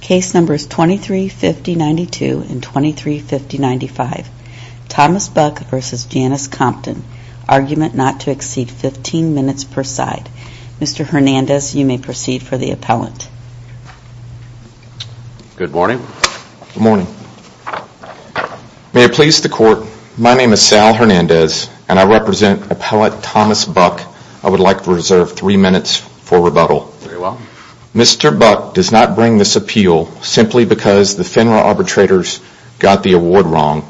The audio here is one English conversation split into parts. Case numbers 23-50-92 and 23-50-95. Thomas Buck v. Janice Compton. Argument not to exceed 15 minutes per side. Mr. Hernandez, you may proceed for the appellant. Good morning. Good morning. May it please the court, my name is Sal Hernandez and I represent appellant Thomas Buck. I would like to reserve 3 minutes for rebuttal. Very well. Mr. Buck does not bring this appeal simply because the FINRA arbitrators got the award wrong.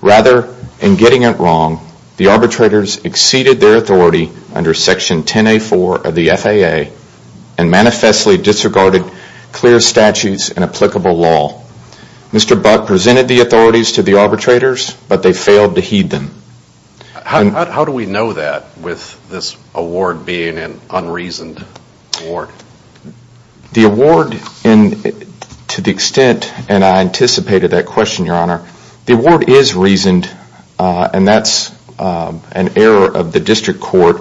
Rather, in getting it wrong, the arbitrators exceeded their authority under Section 10A4 of the FAA and manifestly disregarded clear statutes and applicable law. Mr. Buck presented the authorities to the arbitrators but they failed to heed them. How do we know that with this award being an unreasoned award? The award, to the extent, and I anticipated that question your honor, the award is reasoned and that's an error of the district court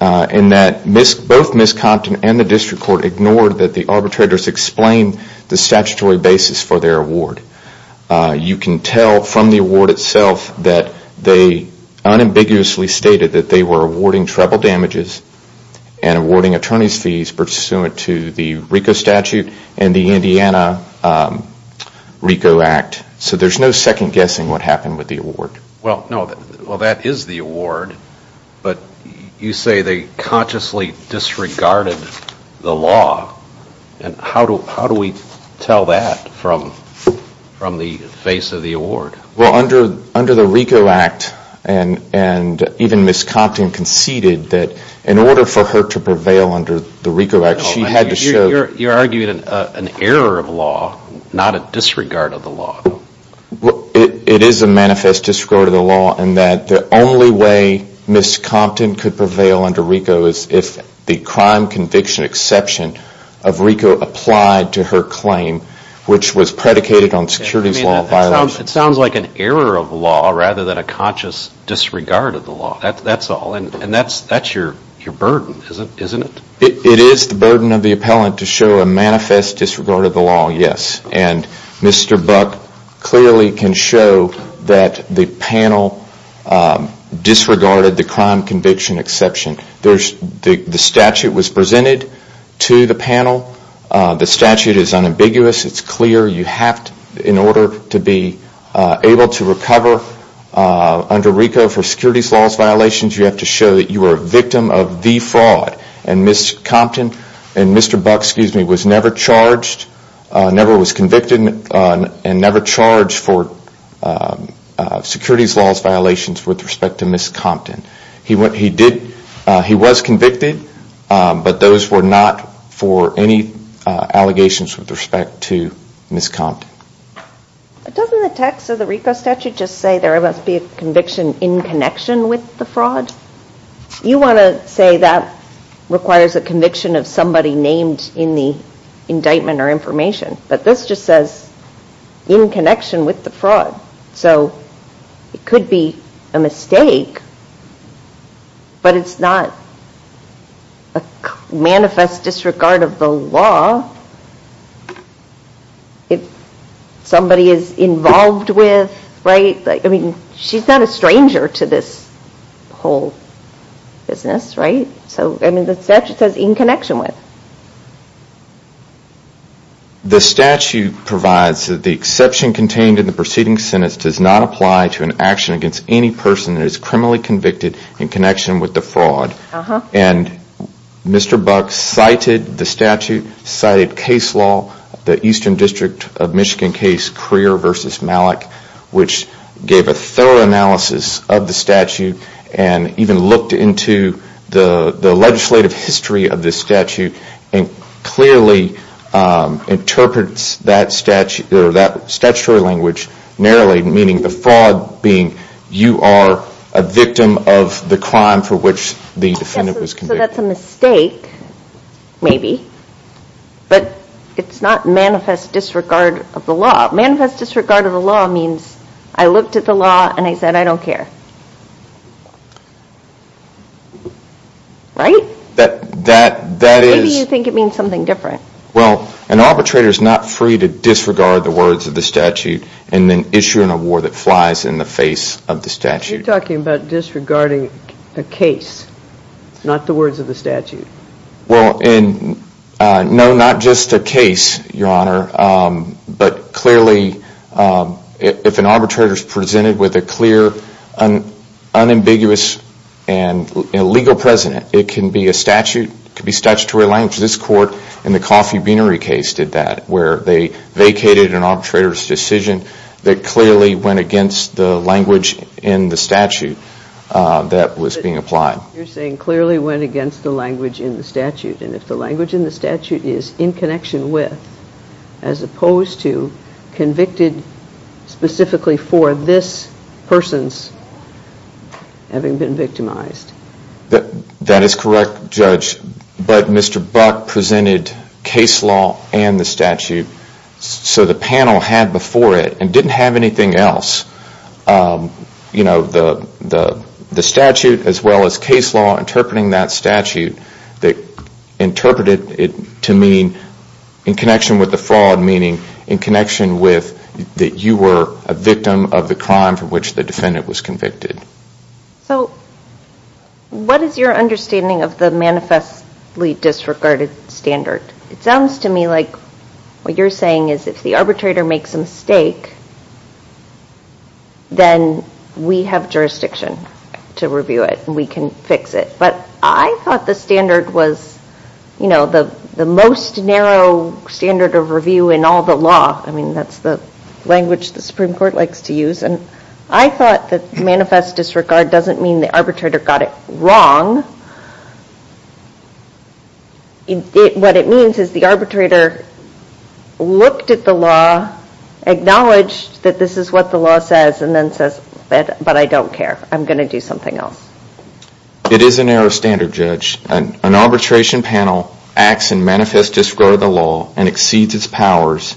in that both Ms. Compton and the district court ignored that the arbitrators explained the statutory basis for their award. You can tell from the award itself that they unambiguously stated that they were awarding treble damages and awarding attorney's fees pursuant to the RICO statute and the Indiana RICO Act. So there's no second guessing what happened with the award. Well, that is the award but you say they consciously disregarded the law and how do we tell that from the face of the award? Well, under the RICO Act and even Ms. Compton conceded that in order for her to prevail under the RICO Act she had to show You're arguing an error of law, not a disregard of the law. It is a manifest disregard of the law in that the only way Ms. Compton could prevail under RICO is if the crime conviction exception of RICO applied to her claim which was predicated on securities law violations. It sounds like an error of law rather than a conscious disregard of the law. That's all and that's your burden, isn't it? It is the burden of the appellant to show a manifest disregard of the law, yes. And Mr. Buck clearly can show that the panel disregarded the crime conviction exception. The statute was presented to the panel. The statute is unambiguous. It's clear you have to, in order to be able to recover under RICO for securities law violations, you have to show that you were a victim of the fraud. And Ms. Compton and Mr. Buck was never charged, never was convicted and never charged for securities law violations with respect to Ms. Compton. He was convicted but those were not for any allegations with respect to Ms. Compton. Doesn't the text of the RICO statute just say there must be a conviction in connection with the fraud? You want to say that requires a conviction of somebody named in the indictment or information. But this just says in connection with the fraud. So it could be a mistake but it's not a manifest disregard of the law if somebody is involved with, right? I mean she's not a stranger to this whole business, right? So I mean the statute says in connection with. The statute provides that the exception contained in the preceding sentence does not apply to an action against any person that is criminally convicted in connection with the fraud. And Mr. Buck cited the statute, cited case law, the Eastern District of Michigan case Crear v. Malik, which gave a thorough analysis of the statute and even looked into the legislative history of the statute and clearly interprets that statutory language narrowly. Meaning the fraud being you are a victim of the crime for which the defendant was convicted. So that's a mistake, maybe. But it's not manifest disregard of the law. Manifest disregard of the law means I looked at the law and I said I don't care. Right? That is. Maybe you think it means something different. Well, an arbitrator is not free to disregard the words of the statute and then issue an award that flies in the face of the statute. You're talking about disregarding a case, not the words of the statute. Well, and no, not just a case, Your Honor, but clearly if an arbitrator is presented with a clear, unambiguous, and legal precedent, it can be a statute, it can be statutory language. This court in the Coffee Beanery case did that where they vacated an arbitrator's decision that clearly went against the language in the statute that was being applied. You're saying clearly went against the language in the statute. And if the language in the statute is in connection with, as opposed to convicted specifically for this person's having been victimized. That is correct, Judge. But Mr. Buck presented case law and the statute. So the panel had before it and didn't have anything else. You know, the statute as well as case law interpreting that statute. They interpreted it to mean in connection with the fraud, meaning in connection with that you were a victim of the crime for which the defendant was convicted. So what is your understanding of the manifestly disregarded standard? It sounds to me like what you're saying is if the arbitrator makes a mistake, then we have jurisdiction to review it and we can fix it. But I thought the standard was, you know, the most narrow standard of review in all the law. I mean, that's the language the Supreme Court likes to use. And I thought that manifest disregard doesn't mean the arbitrator got it wrong. What it means is the arbitrator looked at the law, acknowledged that this is what the law says, and then says, but I don't care. I'm going to do something else. It is a narrow standard, Judge. An arbitration panel acts in manifest disregard of the law and exceeds its powers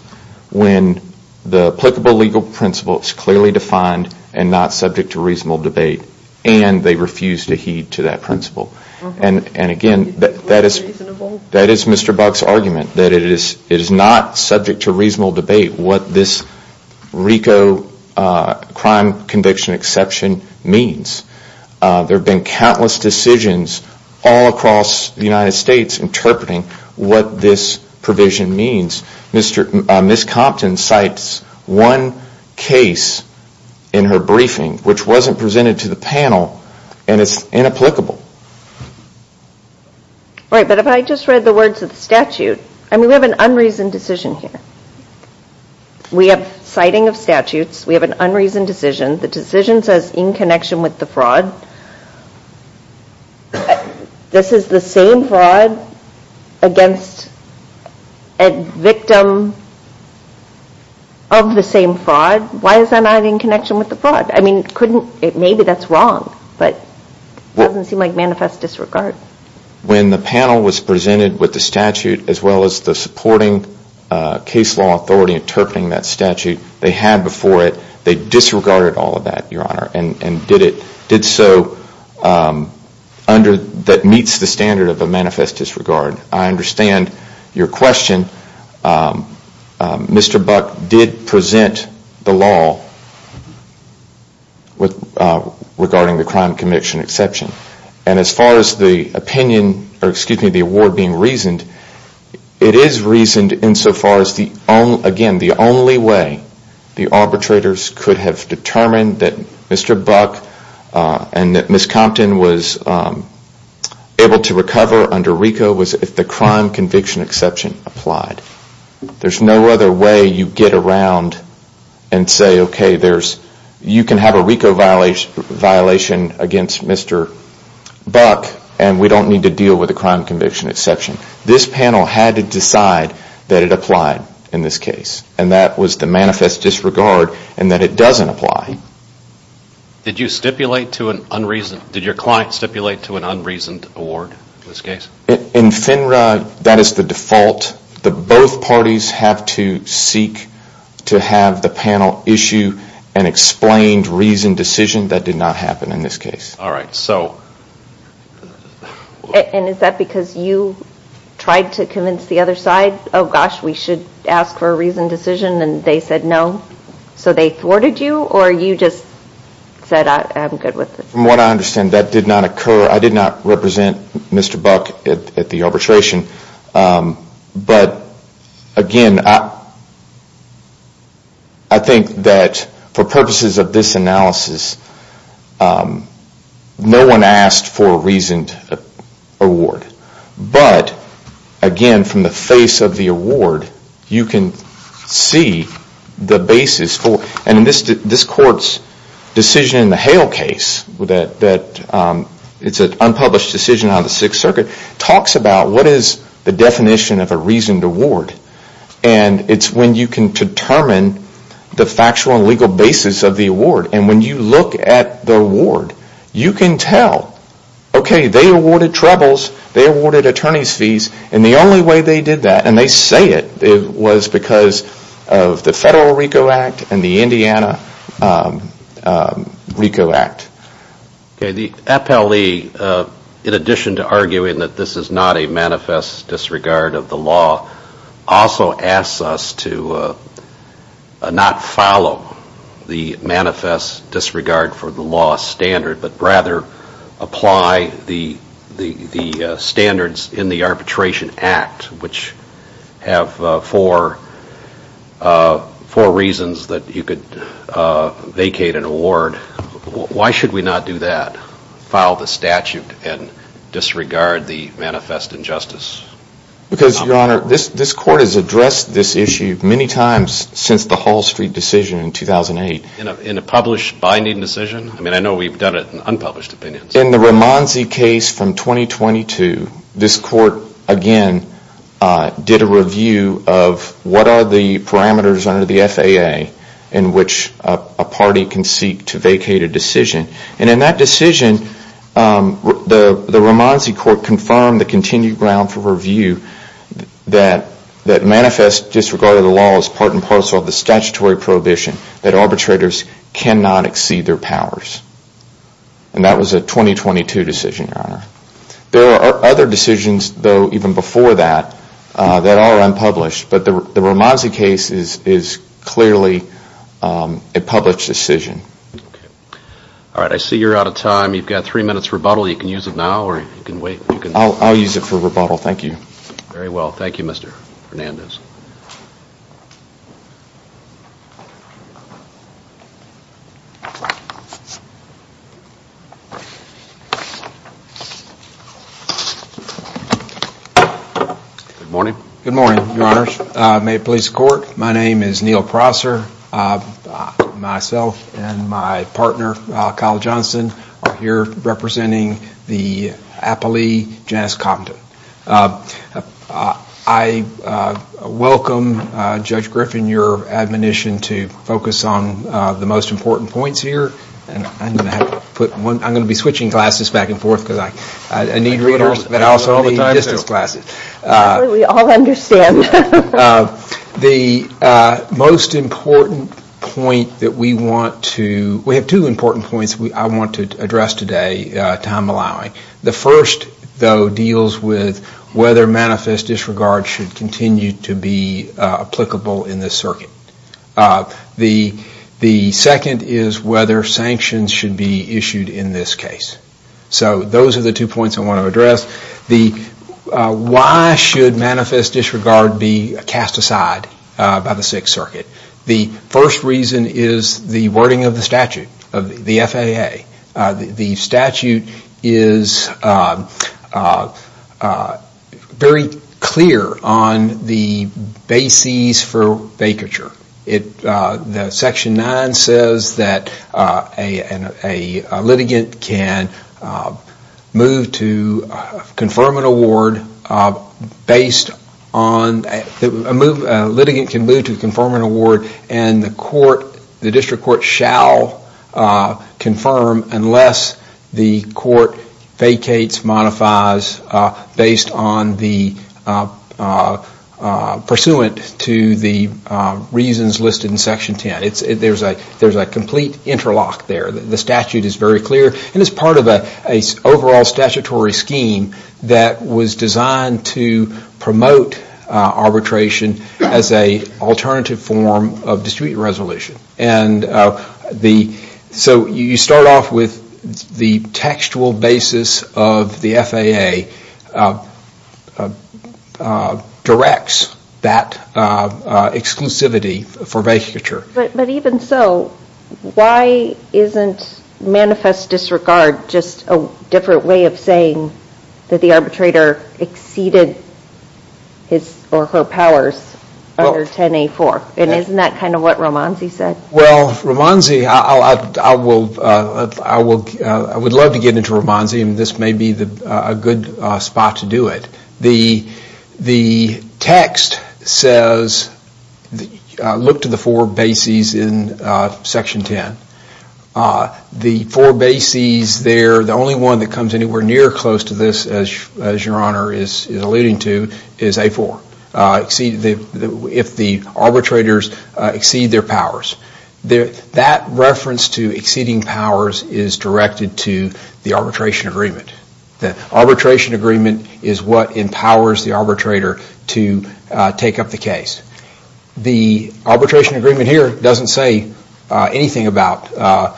when the applicable legal principle is clearly defined and not subject to reasonable debate. And they refuse to heed to that principle. And again, that is Mr. Buck's argument, that it is not subject to reasonable debate what this RICO crime conviction exception means. There have been countless decisions all across the United States interpreting what this provision means. Ms. Compton cites one case in her briefing which wasn't presented to the panel, and it's inapplicable. Right, but if I just read the words of the statute, I mean, we have an unreasoned decision here. We have citing of statutes. We have an unreasoned decision. The decision says in connection with the fraud. This is the same fraud against a victim of the same fraud. Why is that not in connection with the fraud? I mean, maybe that's wrong, but it doesn't seem like manifest disregard. When the panel was presented with the statute as well as the supporting case law authority interpreting that statute, they had before it, they disregarded all of that, Your Honor, and did so under, that meets the standard of a manifest disregard. I understand your question. Mr. Buck did present the law regarding the crime conviction exception. And as far as the opinion, or excuse me, the award being reasoned, it is reasoned in so far as the only, again, the only way the arbitrators could have determined that Mr. Buck and that Ms. Compton was able to recover under RICO was if the crime conviction exception applied. There's no other way you get around and say, okay, you can have a RICO violation against Mr. Buck and we don't need to deal with the crime conviction exception. This panel had to decide that it applied in this case, and that was the manifest disregard, and that it doesn't apply. Did you stipulate to an unreasoned, did your client stipulate to an unreasoned award in this case? In FINRA, that is the default. Both parties have to seek to have the panel issue an explained reasoned decision. That did not happen in this case. And is that because you tried to convince the other side, oh gosh, we should ask for a reasoned decision, and they said no? So they thwarted you, or you just said I'm good with it? From what I understand, that did not occur. I did not represent Mr. Buck at the arbitration. But again, I think that for purposes of this analysis, no one asked for a reasoned award. But again, from the face of the award, you can see the basis for, and this court's decision in the Hale case, it's an unpublished decision on the Sixth Circuit, talks about what is the definition of a reasoned award. And it's when you can determine the factual and legal basis of the award. And when you look at the award, you can tell, okay, they awarded troubles, they awarded attorney's fees, and the only way they did that, and they say it, was because of the Federal RICO Act and the Indiana RICO Act. Okay, the FLE, in addition to arguing that this is not a manifest disregard of the law, also asks us to not follow the manifest disregard for the law standard, but rather apply the standards in the Arbitration Act, which have four reasons that you could vacate an award. Why should we not do that, file the statute and disregard the manifest injustice? Because, Your Honor, this court has addressed this issue many times since the Hall Street decision in 2008. In a published binding decision? I mean, I know we've done it in unpublished opinions. In the Ramonzi case from 2022, this court, again, did a review of what are the parameters under the FAA in which a party can seek to vacate a decision. And in that decision, the Ramonzi court confirmed the continued ground for review that manifest disregard of the law is part and parcel of the statutory prohibition that arbitrators cannot exceed their powers. And that was a 2022 decision, Your Honor. There are other decisions, though, even before that, that are unpublished, but the Ramonzi case is clearly a published decision. All right. I see you're out of time. You've got three minutes rebuttal. You can use it now or you can wait. I'll use it for rebuttal. Thank you. Very well. Thank you, Mr. Hernandez. Good morning. Good morning, Your Honors. May it please the Court, my name is Neal Prosser. Myself and my partner, Kyle Johnson, are here representing the appellee, Janice Compton. I welcome, Judge Griffin, your admonition to focus on the most important points here. I'm going to be switching classes back and forth because I need readers, but I also need distance classes. We all understand. The most important point that we want to, we have two important points I want to address today, time allowing. The first, though, deals with whether manifest disregard should continue to be applicable in this circuit. The second is whether sanctions should be issued in this case. So those are the two points I want to address. Why should manifest disregard be cast aside by the Sixth Circuit? The first reason is the wording of the statute, the FAA. The statute is very clear on the basis for vacature. Section 9 says that a litigant can move to confirm an award based on, a litigant can move to confirm an award and the court, the district court, shall confirm unless the court vacates, modifies, based on the, pursuant to the reasons listed in Section 10. There's a complete interlock there. The statute is very clear and is part of an overall statutory scheme that was designed to promote arbitration as an alternative form of district resolution. So you start off with the textual basis of the FAA directs that exclusivity for vacature. But even so, why isn't manifest disregard just a different way of saying that the arbitrator exceeded his or her powers under 10A4? And isn't that kind of what Romanzi said? Well, Romanzi, I would love to get into Romanzi and this may be a good spot to do it. The text says, look to the four bases in Section 10. The four bases there, the only one that comes anywhere near close to this, as your honor is alluding to, is A4, if the arbitrators exceed their powers. That reference to exceeding powers is directed to the arbitration agreement. The arbitration agreement is what empowers the arbitrator to take up the case. The arbitration agreement here doesn't say anything about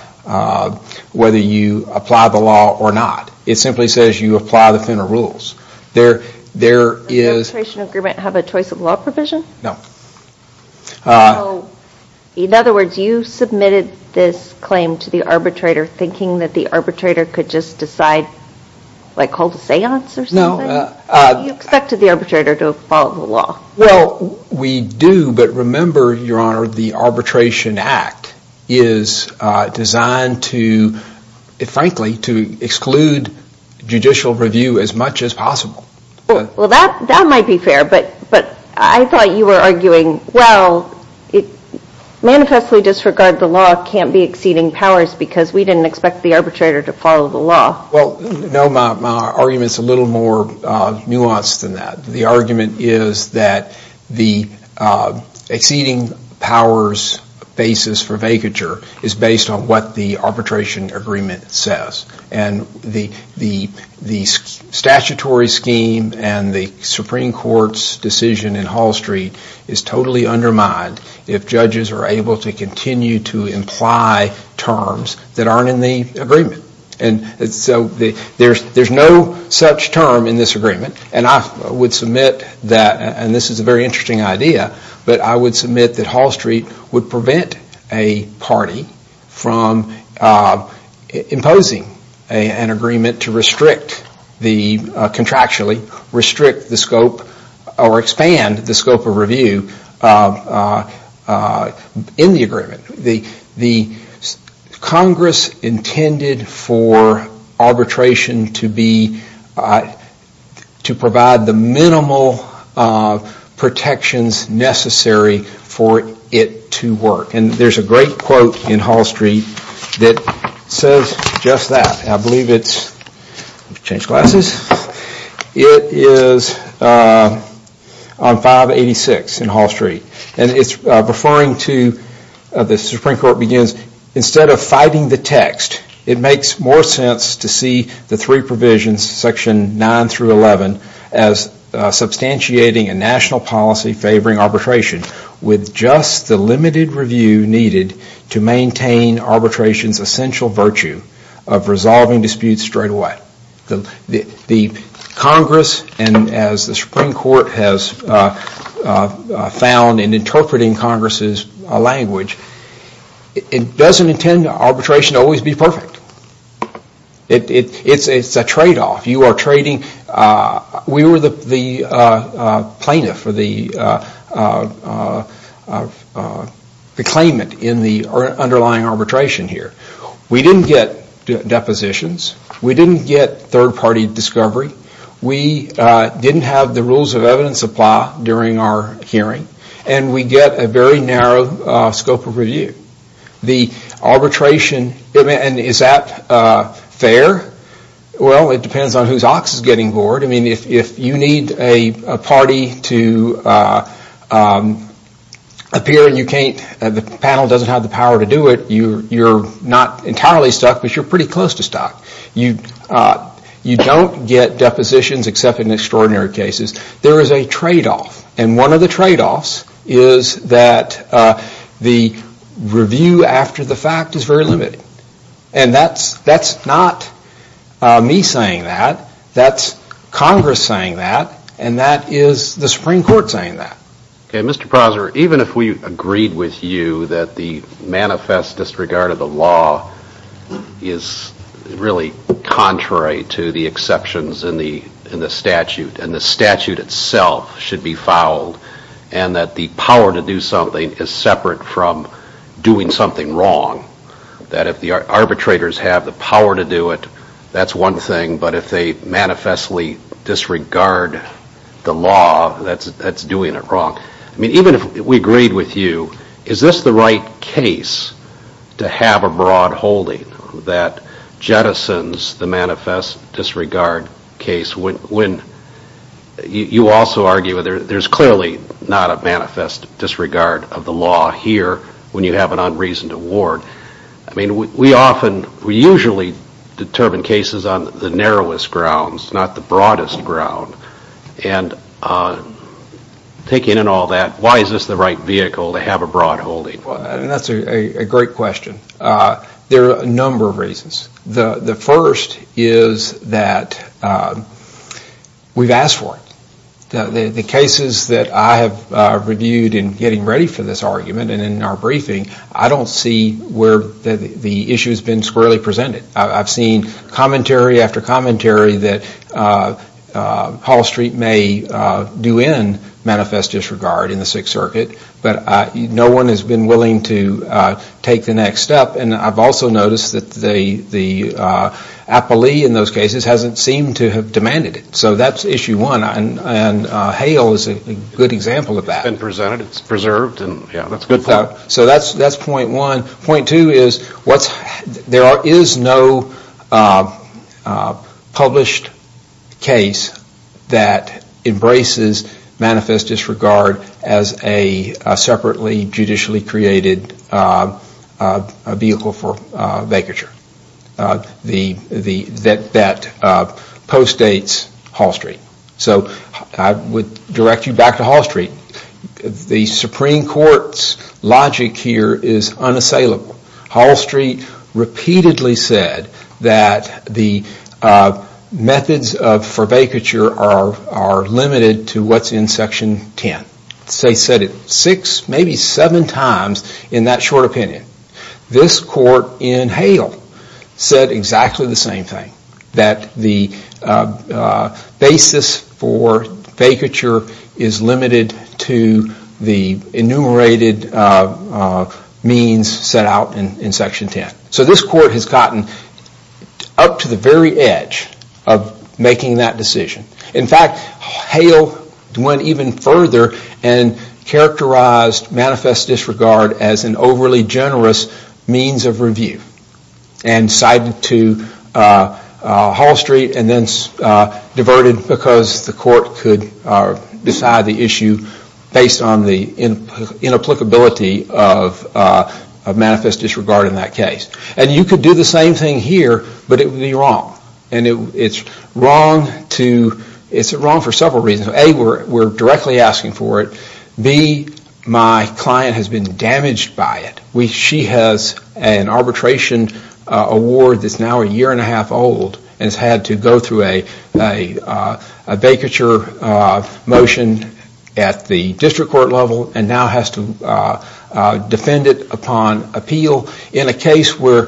whether you apply the law or not. It simply says you apply the Fenner rules. Does the arbitration agreement have a choice of law provision? No. In other words, you submitted this claim to the arbitrator thinking that the arbitrator could just decide, like hold a seance or something? You expected the arbitrator to follow the law. Well, we do, but remember, your honor, the Arbitration Act is designed to, frankly, to exclude judicial review as much as possible. Well, that might be fair, but I thought you were arguing, well, manifestly disregard the law can't be exceeding powers because we didn't expect the arbitrator to follow the law. Well, no, my argument is a little more nuanced than that. The argument is that the exceeding powers basis for vacature is based on what the arbitration agreement says. And the statutory scheme and the Supreme Court's decision in Hall Street is totally undermined if judges are able to continue to imply terms that aren't in the agreement. And so there's no such term in this agreement. And I would submit that, and this is a very interesting idea, but I would submit that Hall Street would prevent a party from imposing an agreement to restrict the contractually, restrict the scope or expand the scope of review in the agreement. The Congress intended for arbitration to be, to provide the minimal protections necessary for it to work. And there's a great quote in Hall Street that says just that. I believe it's, let me change glasses, it is on 586 in Hall Street. And it's referring to, the Supreme Court begins, instead of fighting the text, it makes more sense to see the three provisions, section 9 through 11, as substantiating a national policy favoring arbitration with just the limited review needed to maintain arbitration's essential virtue of resolving disputes straight away. The Congress, and as the Supreme Court has found in interpreting Congress's language, it doesn't intend arbitration to always be perfect. It's a trade-off. You are trading, we were the plaintiff or the claimant in the underlying arbitration here. We didn't get depositions, we didn't get third-party discovery, we didn't have the rules of evidence apply during our hearing, and we get a very narrow scope of review. The arbitration, and is that fair? Well, it depends on whose ox is getting bored. I mean, if you need a party to appear and you can't, the panel doesn't have the power to do it, you're not entirely stuck, but you're pretty close to stuck. You don't get depositions except in extraordinary cases. There is a trade-off, and one of the trade-offs is that the review after the fact is very limited. And that's not me saying that, that's Congress saying that, and that is the Supreme Court saying that. Okay, Mr. Prosser, even if we agreed with you that the manifest disregard of the law is really contrary to the exceptions in the statute, and the statute itself should be fouled, and that the power to do something is separate from doing something wrong, that if the arbitrators have the power to do it, that's one thing, but if they manifestly disregard the law, that's doing it wrong. I mean, even if we agreed with you, is this the right case to have a broad holding that jettisons the manifest disregard case when you also argue there's clearly not a manifest disregard of the law here when you have an unreasoned award. I mean, we often, we usually determine cases on the narrowest grounds, not the broadest ground, and taking in all that, why is this the right vehicle to have a broad holding? That's a great question. There are a number of reasons. The first is that we've asked for it. The cases that I have reviewed in getting ready for this argument and in our briefing, I don't see where the issue has been squarely presented. I've seen commentary after commentary that Hall Street may do in manifest disregard in the Sixth Circuit, but no one has been willing to take the next step, and I've also noticed that the appellee in those cases hasn't seemed to have demanded it. So that's issue one, and Hale is a good example of that. It's been presented, it's preserved, and that's a good point. So that's point one. Point two is there is no published case that embraces manifest disregard as a separately judicially created vehicle for vacature that postdates Hall Street. So I would direct you back to Hall Street. The Supreme Court's logic here is unassailable. Hall Street repeatedly said that the methods for vacature are limited to what's in Section 10. They said it six, maybe seven times in that short opinion. This court in Hale said exactly the same thing, that the basis for vacature is limited to the enumerated means set out in Section 10. So this court has gotten up to the very edge of making that decision. In fact, Hale went even further and characterized manifest disregard as an overly generous means of review and cited to Hall Street and then diverted because the court could decide the issue based on the inapplicability of manifest disregard in that case. And you could do the same thing here, but it would be wrong. And it's wrong for several reasons. A, we're directly asking for it. B, my client has been damaged by it. She has an arbitration award that's now a year and a half old and has had to go through a vacature motion at the district court level and now has to defend it upon appeal in a case where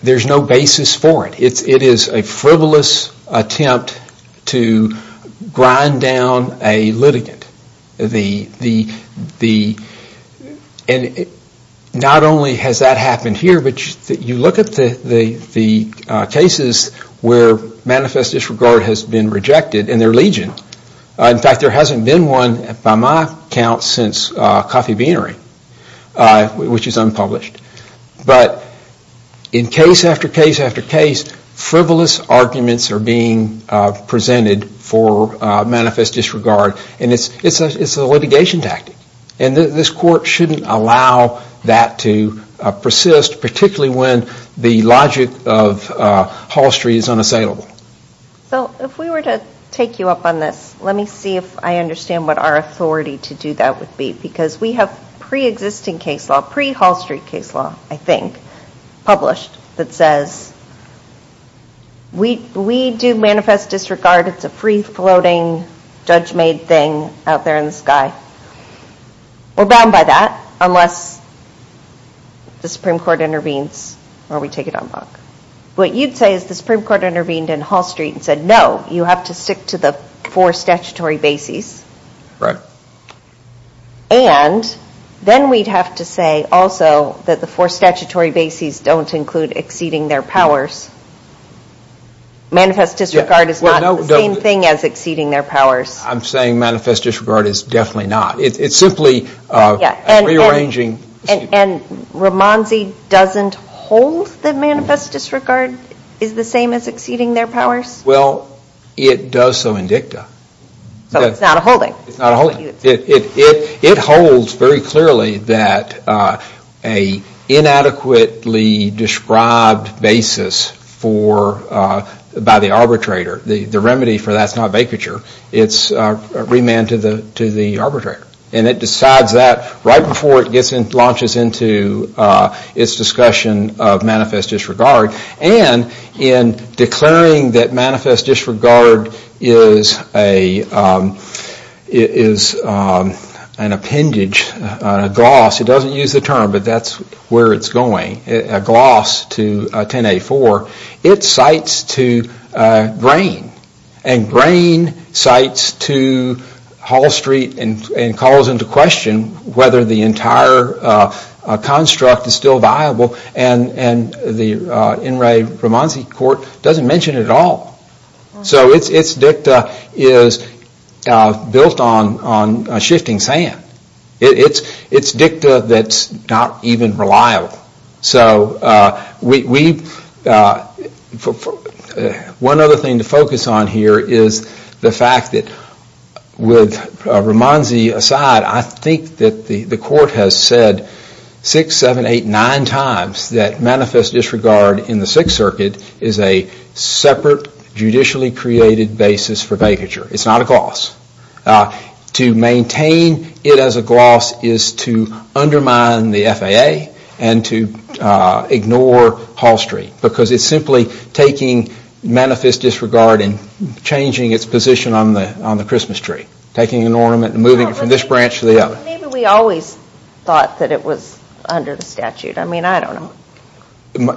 there's no basis for it. It is a frivolous attempt to grind down a litigant. And not only has that happened here, but you look at the cases where manifest disregard has been rejected and they're legion. In fact, there hasn't been one by my count since Coffee Beanery, which is unpublished. But in case after case after case, frivolous arguments are being presented for manifest disregard and it's a litigation tactic. And this court shouldn't allow that to persist, particularly when the logic of Hall Street is unassailable. So if we were to take you up on this, let me see if I understand what our authority to do that would be. Because we have pre-existing case law, pre-Hall Street case law, I think, published that says we do manifest disregard. It's a free-floating, judge-made thing out there in the sky. We're bound by that unless the Supreme Court intervenes or we take it on back. What you'd say is the Supreme Court intervened in Hall Street and said, no, you have to stick to the four statutory bases. Right. And then we'd have to say also that the four statutory bases don't include exceeding their powers. Manifest disregard is not the same thing as exceeding their powers. I'm saying manifest disregard is definitely not. It's simply rearranging. And Ramonzi doesn't hold that manifest disregard is the same as exceeding their powers? Well, it does so in dicta. So it's not a holding? It holds very clearly that an inadequately described basis by the arbitrator, the remedy for that's not vacature, it's remand to the arbitrator. And it decides that right before it launches into its discussion of manifest disregard. And in declaring that manifest disregard is an appendage, a gloss, it doesn't use the term but that's where it's going, a gloss to 10A4, it cites to grain. And grain cites to Hall Street and calls into question whether the entire construct is still viable. And the In re Ramonzi court doesn't mention it at all. So its dicta is built on shifting sand. It's dicta that's not even reliable. So one other thing to focus on here is the fact that with Ramonzi aside, I think that the court has said 6, 7, 8, 9 times that manifest disregard in the 6th Circuit is a separate, judicially created basis for vacature. It's not a gloss. To maintain it as a gloss is to undermine the FAA and to ignore Hall Street because it's simply taking manifest disregard and changing its position on the Christmas tree. Taking an ornament and moving it from this branch to the other. Maybe we always thought that it was under the statute. I mean, I don't know.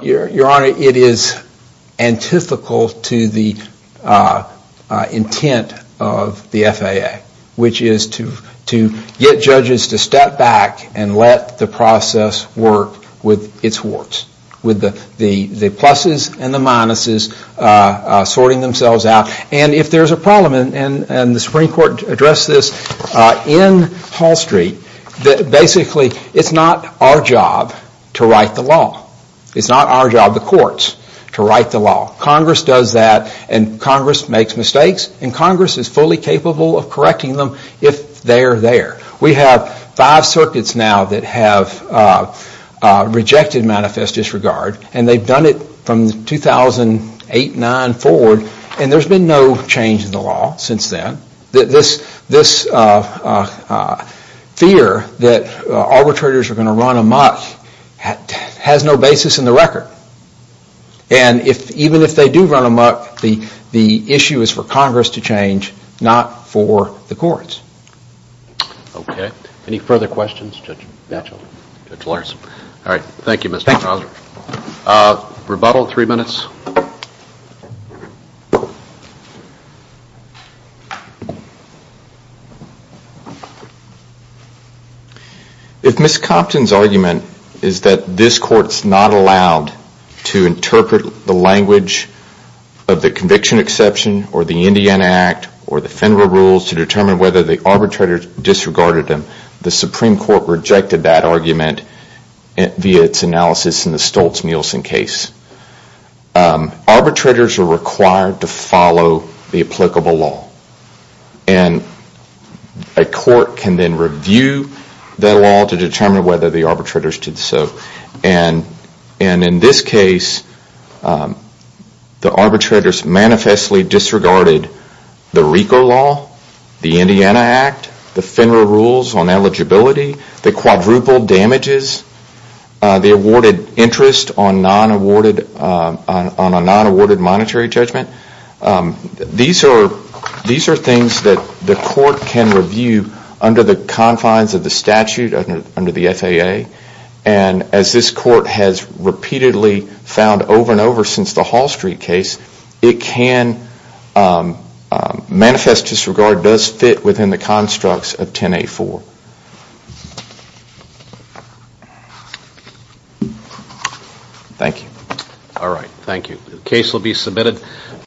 Your Honor, it is antithetical to the intent of the FAA, which is to get judges to step back and let the process work with its warts. With the pluses and the minuses sorting themselves out. And if there's a problem, and the Supreme Court addressed this in Hall Street, basically it's not our job to write the law. It's not our job, the courts, to write the law. Congress does that and Congress makes mistakes and Congress is fully capable of correcting them if they're there. We have five circuits now that have rejected manifest disregard and they've done it from 2008-9 forward and there's been no change in the law since then. This fear that arbitrators are going to run amok has no basis in the record. And even if they do run amok, the issue is for Congress to change, not for the courts. Okay. Any further questions, Judge Batchelor? All right. Thank you, Mr. Prosser. Rebuttal, three minutes. If Ms. Compton's argument is that this court's not allowed to interpret the language of the Conviction Exception or the Indiana Act or the Federal Rules to determine whether the arbitrator disregarded them, the Supreme Court rejected that argument via its analysis in the Stoltz-Mielsen case. Arbitrators are required to follow the applicable law and a court can then review that law to determine whether the arbitrators did so. And in this case, the arbitrators manifestly disregarded the RICO law, the Indiana Act, the Federal Rules on eligibility, the quadruple damages, the awarded interest on a non-awarded monetary judgment. These are things that the court can review under the confines of the statute, under the FAA. And as this court has repeatedly found over and over since the Hall Street case, it can manifest disregard does fit within the constructs of 10A4. Thank you. All right. Thank you. The case will be submitted.